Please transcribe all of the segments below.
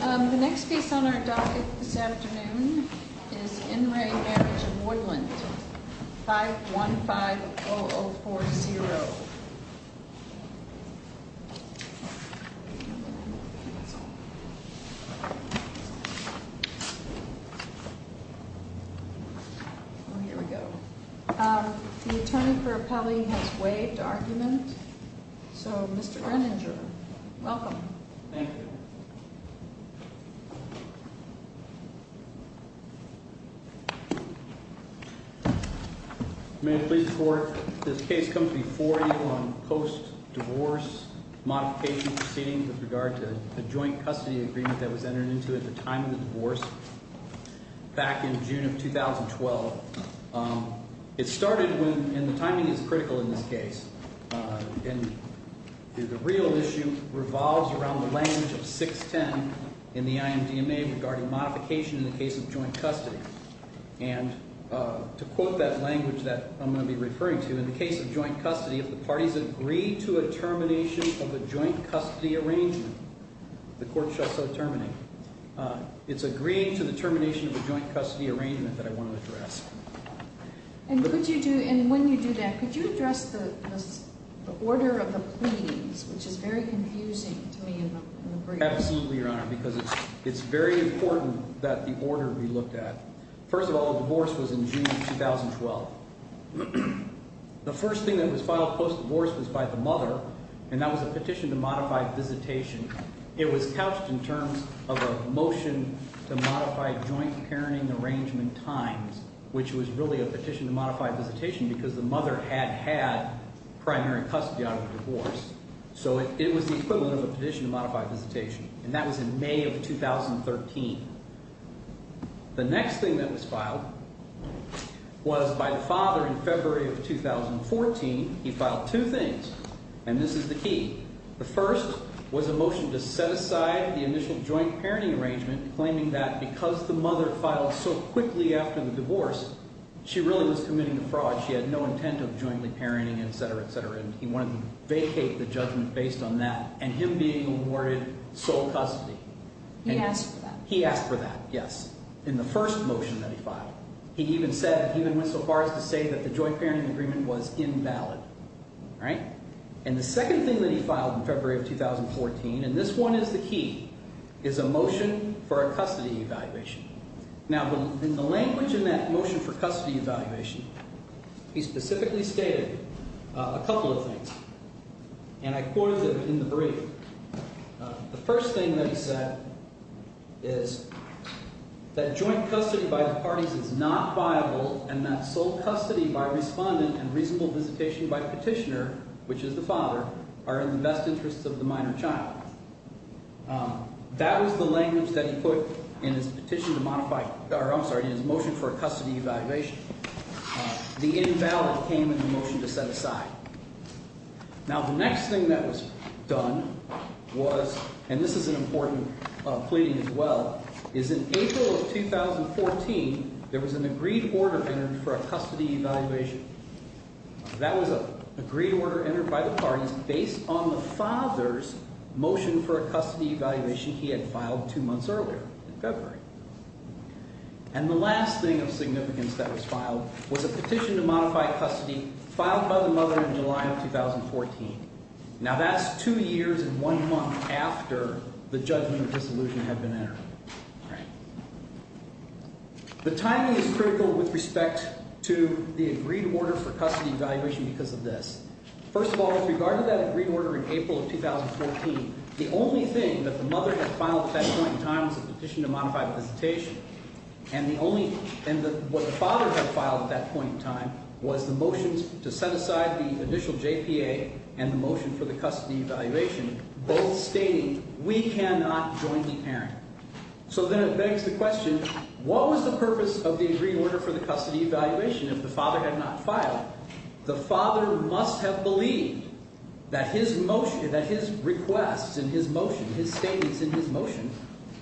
The next piece on our docket this afternoon is In Re Marriage of Woodland, 515-0040. Oh, here we go. The Attorney for Appellee has waived argument. So, Mr. Greninger, welcome. Thank you. May it please the Court, this case comes before you on post-divorce modification proceedings with regard to the joint custody agreement that was entered into at the time of the divorce back in June of 2012. It started when, and the timing is critical in this case, and the real issue revolves around the language of 610 in the IMDMA regarding modification in the case of joint custody. And to quote that language that I'm going to be referring to, in the case of joint custody, if the parties agree to a termination of a joint custody arrangement, the court shall so terminate. It's agreeing to the termination of a joint custody arrangement that I want to address. And could you do, and when you do that, could you address the order of the pleadings, which is very confusing to me in the brief. Absolutely, Your Honor, because it's very important that the order be looked at. First of all, the divorce was in June of 2012. The first thing that was filed post-divorce was by the mother, and that was a petition to modify visitation. It was couched in terms of a motion to modify joint parenting arrangement times, which was really a petition to modify visitation because the mother had had primary custody out of the divorce. So it was the equivalent of a petition to modify visitation, and that was in May of 2013. The next thing that was filed was by the father in February of 2014. He filed two things, and this is the key. The first was a motion to set aside the initial joint parenting arrangement, claiming that because the mother filed so quickly after the divorce, she really was committing a fraud. She had no intent of jointly parenting, etc., etc., and he wanted to vacate the judgment based on that, and him being awarded sole custody. He asked for that. He asked for that, yes, in the first motion that he filed. He even said, he even went so far as to say that the joint parenting agreement was invalid. And the second thing that he filed in February of 2014, and this one is the key, is a motion for a custody evaluation. Now, in the language in that motion for custody evaluation, he specifically stated a couple of things, and I quoted them in the brief. The first thing that he said is that joint custody by the parties is not viable and that sole custody by respondent and reasonable visitation by petitioner, which is the father, are in the best interests of the minor child. That was the language that he put in his petition to modify – or I'm sorry, in his motion for a custody evaluation. The invalid came in the motion to set aside. Now, the next thing that was done was – and this is an important pleading as well – is in April of 2014, there was an agreed order entered for a custody evaluation. That was an agreed order entered by the parties based on the father's motion for a custody evaluation he had filed two months earlier in February. And the last thing of significance that was filed was a petition to modify custody filed by the mother in July of 2014. Now, that's two years and one month after the judgment of dissolution had been entered. The timing is critical with respect to the agreed order for custody evaluation because of this. First of all, with regard to that agreed order in April of 2014, the only thing that the mother had filed at that point in time was a petition to modify the visitation. And the only – and what the father had filed at that point in time was the motions to set aside the initial JPA and the motion for the custody evaluation, both stating we cannot jointly parent. So then it begs the question, what was the purpose of the agreed order for the custody evaluation if the father had not filed? The father must have believed that his motion – that his request and his motion, his statements in his motion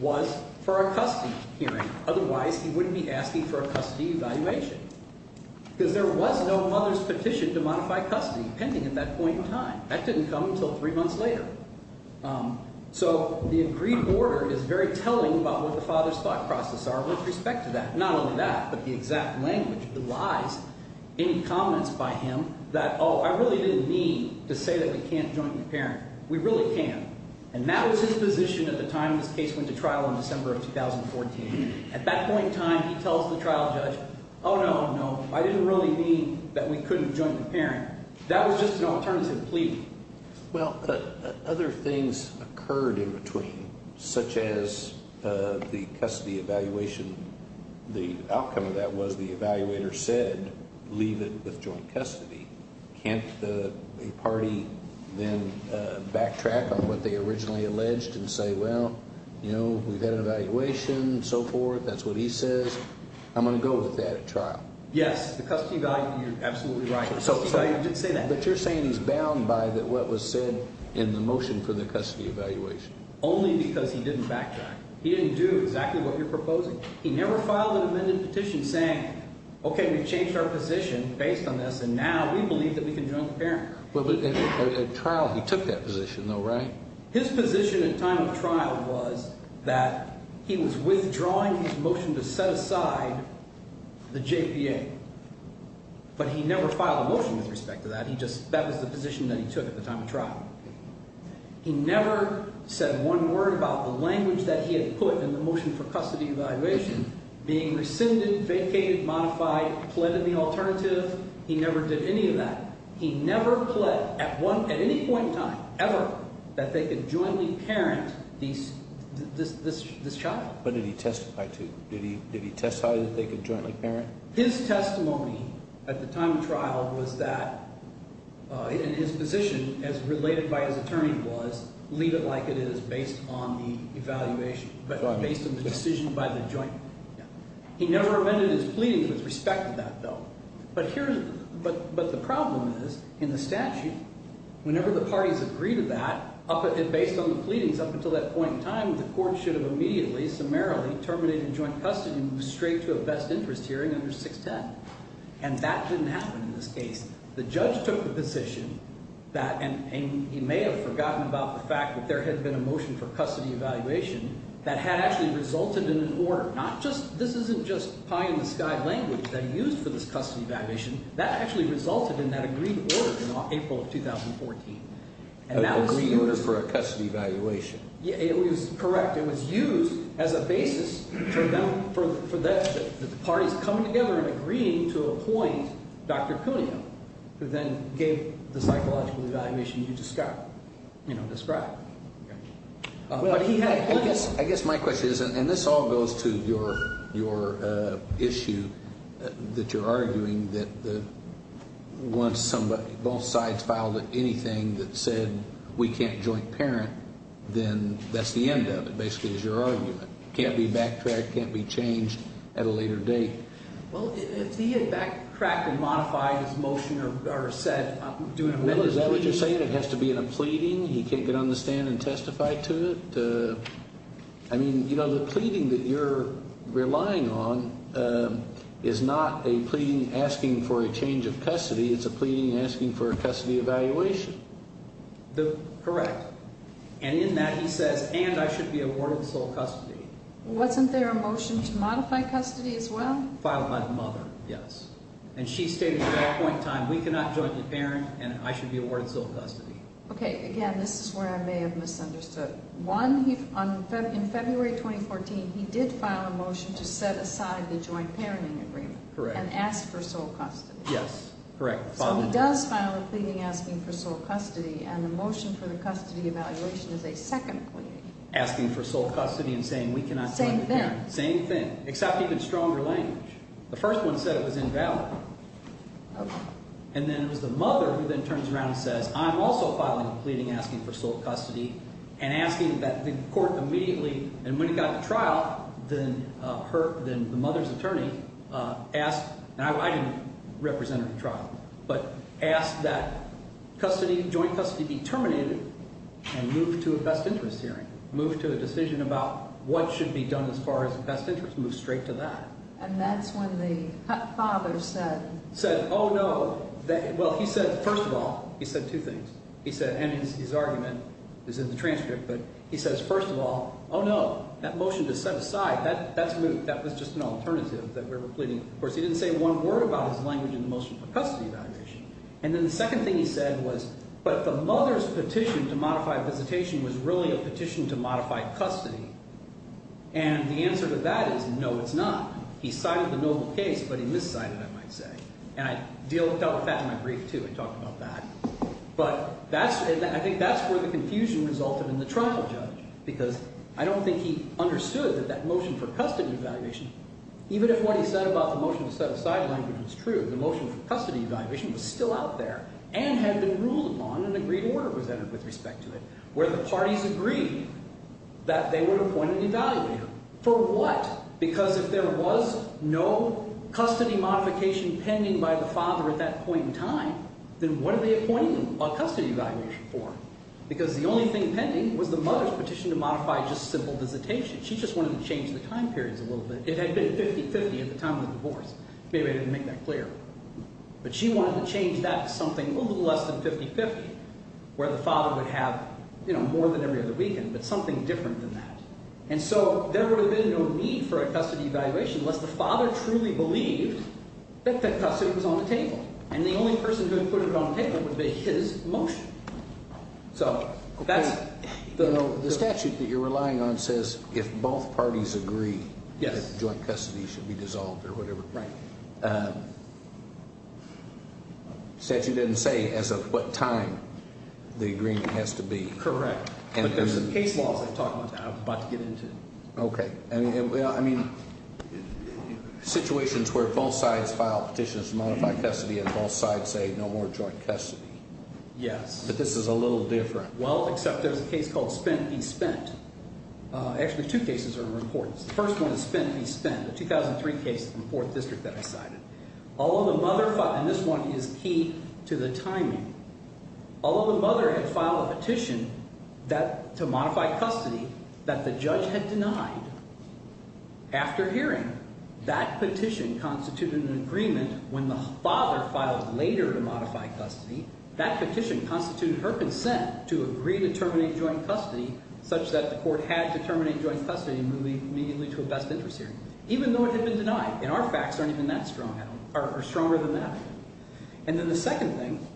was for a custody hearing. Otherwise, he wouldn't be asking for a custody evaluation because there was no mother's petition to modify custody pending at that point in time. That didn't come until three months later. So the agreed order is very telling about what the father's thought process are with respect to that. Not only that, but the exact language, the lies, any comments by him that, oh, I really didn't mean to say that we can't jointly parent. We really can't. And that was his position at the time this case went to trial in December of 2014. At that point in time, he tells the trial judge, oh, no, no, I didn't really mean that we couldn't jointly parent. That was just an alternative plea. Well, other things occurred in between, such as the custody evaluation. The outcome of that was the evaluator said leave it with joint custody. Can't a party then backtrack on what they originally alleged and say, well, you know, we've had an evaluation and so forth. That's what he says. I'm going to go with that at trial. Yes, the custody evaluation, you're absolutely right. He did say that. But you're saying he's bound by what was said in the motion for the custody evaluation. Only because he didn't backtrack. He didn't do exactly what you're proposing. He never filed an amended petition saying, okay, we've changed our position based on this, and now we believe that we can jointly parent. But at trial, he took that position, though, right? His position at time of trial was that he was withdrawing his motion to set aside the JPA. But he never filed a motion with respect to that. That was the position that he took at the time of trial. He never said one word about the language that he had put in the motion for custody evaluation being rescinded, vacated, modified, pled in the alternative. He never did any of that. He never pled at any point in time, ever, that they could jointly parent this child. But did he testify to? Did he testify that they could jointly parent? His testimony at the time of trial was that in his position, as related by his attorney was, leave it like it is based on the evaluation, based on the decision by the joint. He never amended his pleadings with respect to that, though. But the problem is, in the statute, whenever the parties agree to that, based on the pleadings up until that point in time, the court should have immediately, summarily terminated joint custody and moved straight to a best interest hearing under 610. And that didn't happen in this case. The judge took the position that, and he may have forgotten about the fact that there had been a motion for custody evaluation that had actually resulted in an order. Not just, this isn't just pie in the sky language that he used for this custody evaluation. That actually resulted in that agreed order in April of 2014. And that was the order for a custody evaluation. It was correct. It was used as a basis for them, for the parties coming together and agreeing to appoint Dr. Cuneo, who then gave the psychological evaluation you described. I guess my question is, and this all goes to your issue that you're arguing, that once both sides filed anything that said we can't joint parent, then that's the end of it, basically, is your argument. Can't be backtracked, can't be changed at a later date. Well, if he had backtracked and modified his motion or said, I'm doing an order. Is that what you're saying? It has to be in a pleading? He can't get on the stand and testify to it? I mean, you know, the pleading that you're relying on is not a pleading asking for a change of custody. It's a pleading asking for a custody evaluation. Correct. And in that he says, and I should be awarded sole custody. Wasn't there a motion to modify custody as well? Filed by the mother, yes. And she stated at that point in time, we cannot joint the parent and I should be awarded sole custody. Okay, again, this is where I may have misunderstood. One, in February 2014, he did file a motion to set aside the joint parenting agreement. Correct. And ask for sole custody. Yes, correct. So he does file a pleading asking for sole custody and the motion for the custody evaluation is a second pleading. Asking for sole custody and saying we cannot joint the parent. Same thing. Same thing, except even stronger language. The first one said it was invalid. Okay. And then it was the mother who then turns around and says, I'm also filing a pleading asking for sole custody and asking that the court immediately, and when it got to trial, then the mother's attorney asked, and I didn't represent her at the trial, but asked that custody, joint custody be terminated and moved to a best interest hearing. Moved to a decision about what should be done as far as the best interest. Moved straight to that. And that's when the father said. Said, oh, no. Well, he said, first of all, he said two things. He said, and his argument is in the transcript, but he says, first of all, oh, no. That motion to set aside, that was just an alternative that we were pleading. Of course, he didn't say one word about his language in the motion for custody evaluation. And then the second thing he said was, but the mother's petition to modify visitation was really a petition to modify custody. And the answer to that is, no, it's not. He cited the noble case, but he miscited, I might say. And I dealt with that in my brief, too, and talked about that. But that's, I think that's where the confusion resulted in the trial judge, because I don't think he understood that that motion for custody evaluation, even if what he said about the motion to set aside language was true, the motion for custody evaluation was still out there and had been ruled upon and agreed order was entered with respect to it, where the parties agreed that they would appoint an evaluator. For what? Because if there was no custody modification pending by the father at that point in time, then what are they appointing a custody evaluator for? Because the only thing pending was the mother's petition to modify just simple visitation. She just wanted to change the time periods a little bit. It had been 50-50 at the time of the divorce. Maybe I didn't make that clear. But she wanted to change that to something a little less than 50-50, where the father would have, you know, more than every other weekend, but something different than that. And so there would have been no need for a custody evaluation unless the father truly believed that that custody was on the table, and the only person who had put it on the table would have been his motion. So that's... The statute that you're relying on says if both parties agree... Yes. ...that joint custody should be dissolved or whatever. Right. The statute doesn't say as of what time the agreement has to be. Correct. But there's some case laws that talk about that I was about to get into. Okay. I mean, situations where both sides file petitions to modify custody and both sides say no more joint custody. Yes. But this is a little different. Well, except there's a case called Spent v. Spent. Actually, two cases are in the report. The first one is Spent v. Spent, the 2003 case in the 4th District that I cited. All of the mother filed... And this one is key to the timing. All of the mother had filed a petition to modify custody that the judge had denied. After hearing, that petition constituted an agreement. When the father filed later to modify custody, that petition constituted her consent to agree to terminate joint custody such that the court had to terminate joint custody and move immediately to a best interest hearing, even though it had been denied. And our facts aren't even that strong, or stronger than that. And then the second thing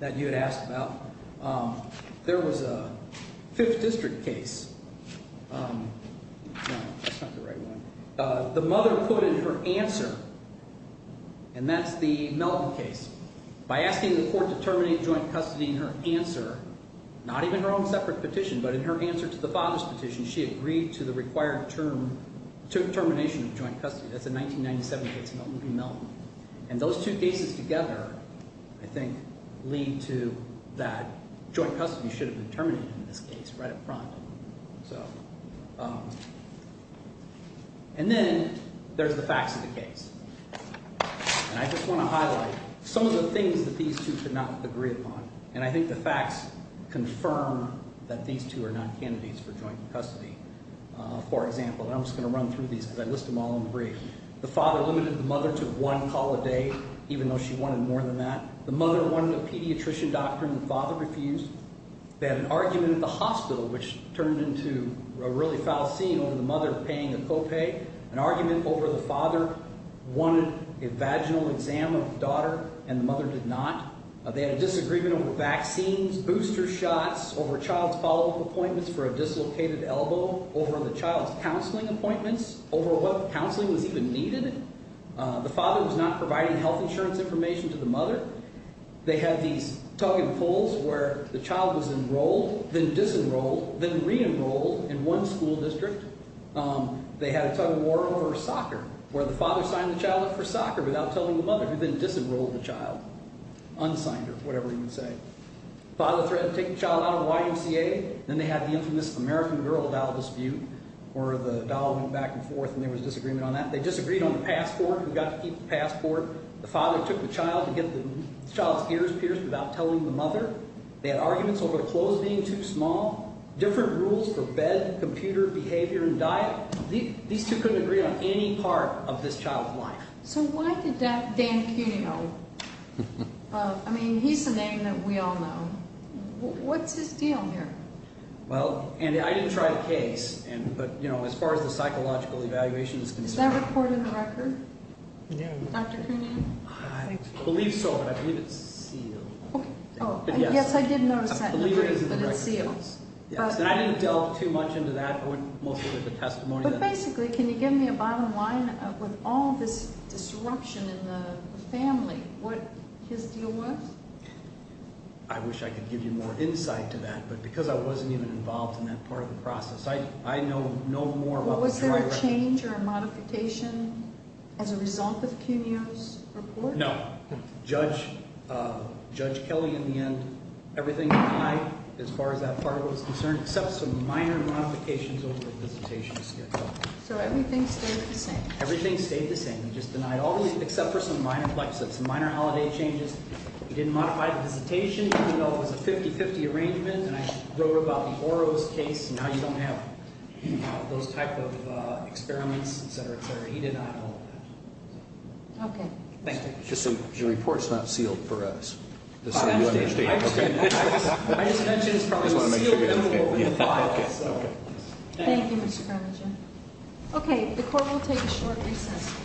that you had asked about, there was a 5th District case. No, that's not the right one. The mother quoted her answer, and that's the Melton case. By asking the court to terminate joint custody in her answer, not even her own separate petition, but in her answer to the father's petition, she agreed to the required term, termination of joint custody. That's a 1997 case, Melton v. Melton. And those two cases together, I think, lead to that joint custody should have been terminated in this case right up front. And then there's the facts of the case. And I just want to highlight some of the things that these two could not agree upon. And I think the facts confirm that these two are not candidates for joint custody. For example, and I'm just going to run through these because I list them all in the brief. The father limited the mother to one call a day, even though she wanted more than that. The mother wanted a pediatrician doctor, and the father refused. They had an argument at the hospital, which turned into a really foul scene over the mother paying the co-pay. An argument over the father wanted a vaginal exam of the daughter, and the mother did not. They had a disagreement over vaccines, booster shots, over child follow-up appointments for a dislocated elbow, over the child's counseling appointments, over what counseling was even needed. The father was not providing health insurance information to the mother. They had these tug-and-pulls where the child was enrolled, then disenrolled, then re-enrolled in one school district. They had a tug-of-war over soccer, where the father signed the child up for soccer without telling the mother, who then disenrolled the child. Unsigned her, whatever you would say. Father threatened to take the child out of the YMCA. Then they had the infamous American Girl Dial Dispute, where the dial went back and forth and there was a disagreement on that. They disagreed on the passport, who got to keep the passport. The father took the child to get the child's ears pierced without telling the mother. They had arguments over the clothes being too small, different rules for bed, computer, behavior, and diet. These two couldn't agree on any part of this child's life. So why did Dan Cunio, I mean, he's a name that we all know. What's his deal here? Well, and I didn't try the case, but as far as the psychological evaluation is concerned. Is that recorded in the record? Yeah. Dr. Cunio? I believe so, but I believe it's sealed. Yes, I did notice that in the brief, but it's sealed. Yes, and I didn't delve too much into that. I went mostly with the testimony. But basically, can you give me a bottom line? With all this disruption in the family, what his deal was? I wish I could give you more insight to that, but because I wasn't even involved in that part of the process, I know no more about the trial record. Was there a change or a modification as a result of Cunio's report? No. Judge Kelly, in the end, everything denied as far as that part was concerned, except some minor modifications over the visitation schedule. So everything stayed the same? Everything stayed the same. Except for some minor holiday changes. He didn't modify the visitation. It was a 50-50 arrangement, and I wrote about the Oro's case, and now you don't have those type of experiments, et cetera, et cetera. He denied all of that. Okay. Thank you. Your report's not sealed for us, just so you understand. I just mentioned it's probably sealed in the file. Okay. Thank you, Mr. Carmichael. Okay. The court will take a short recess.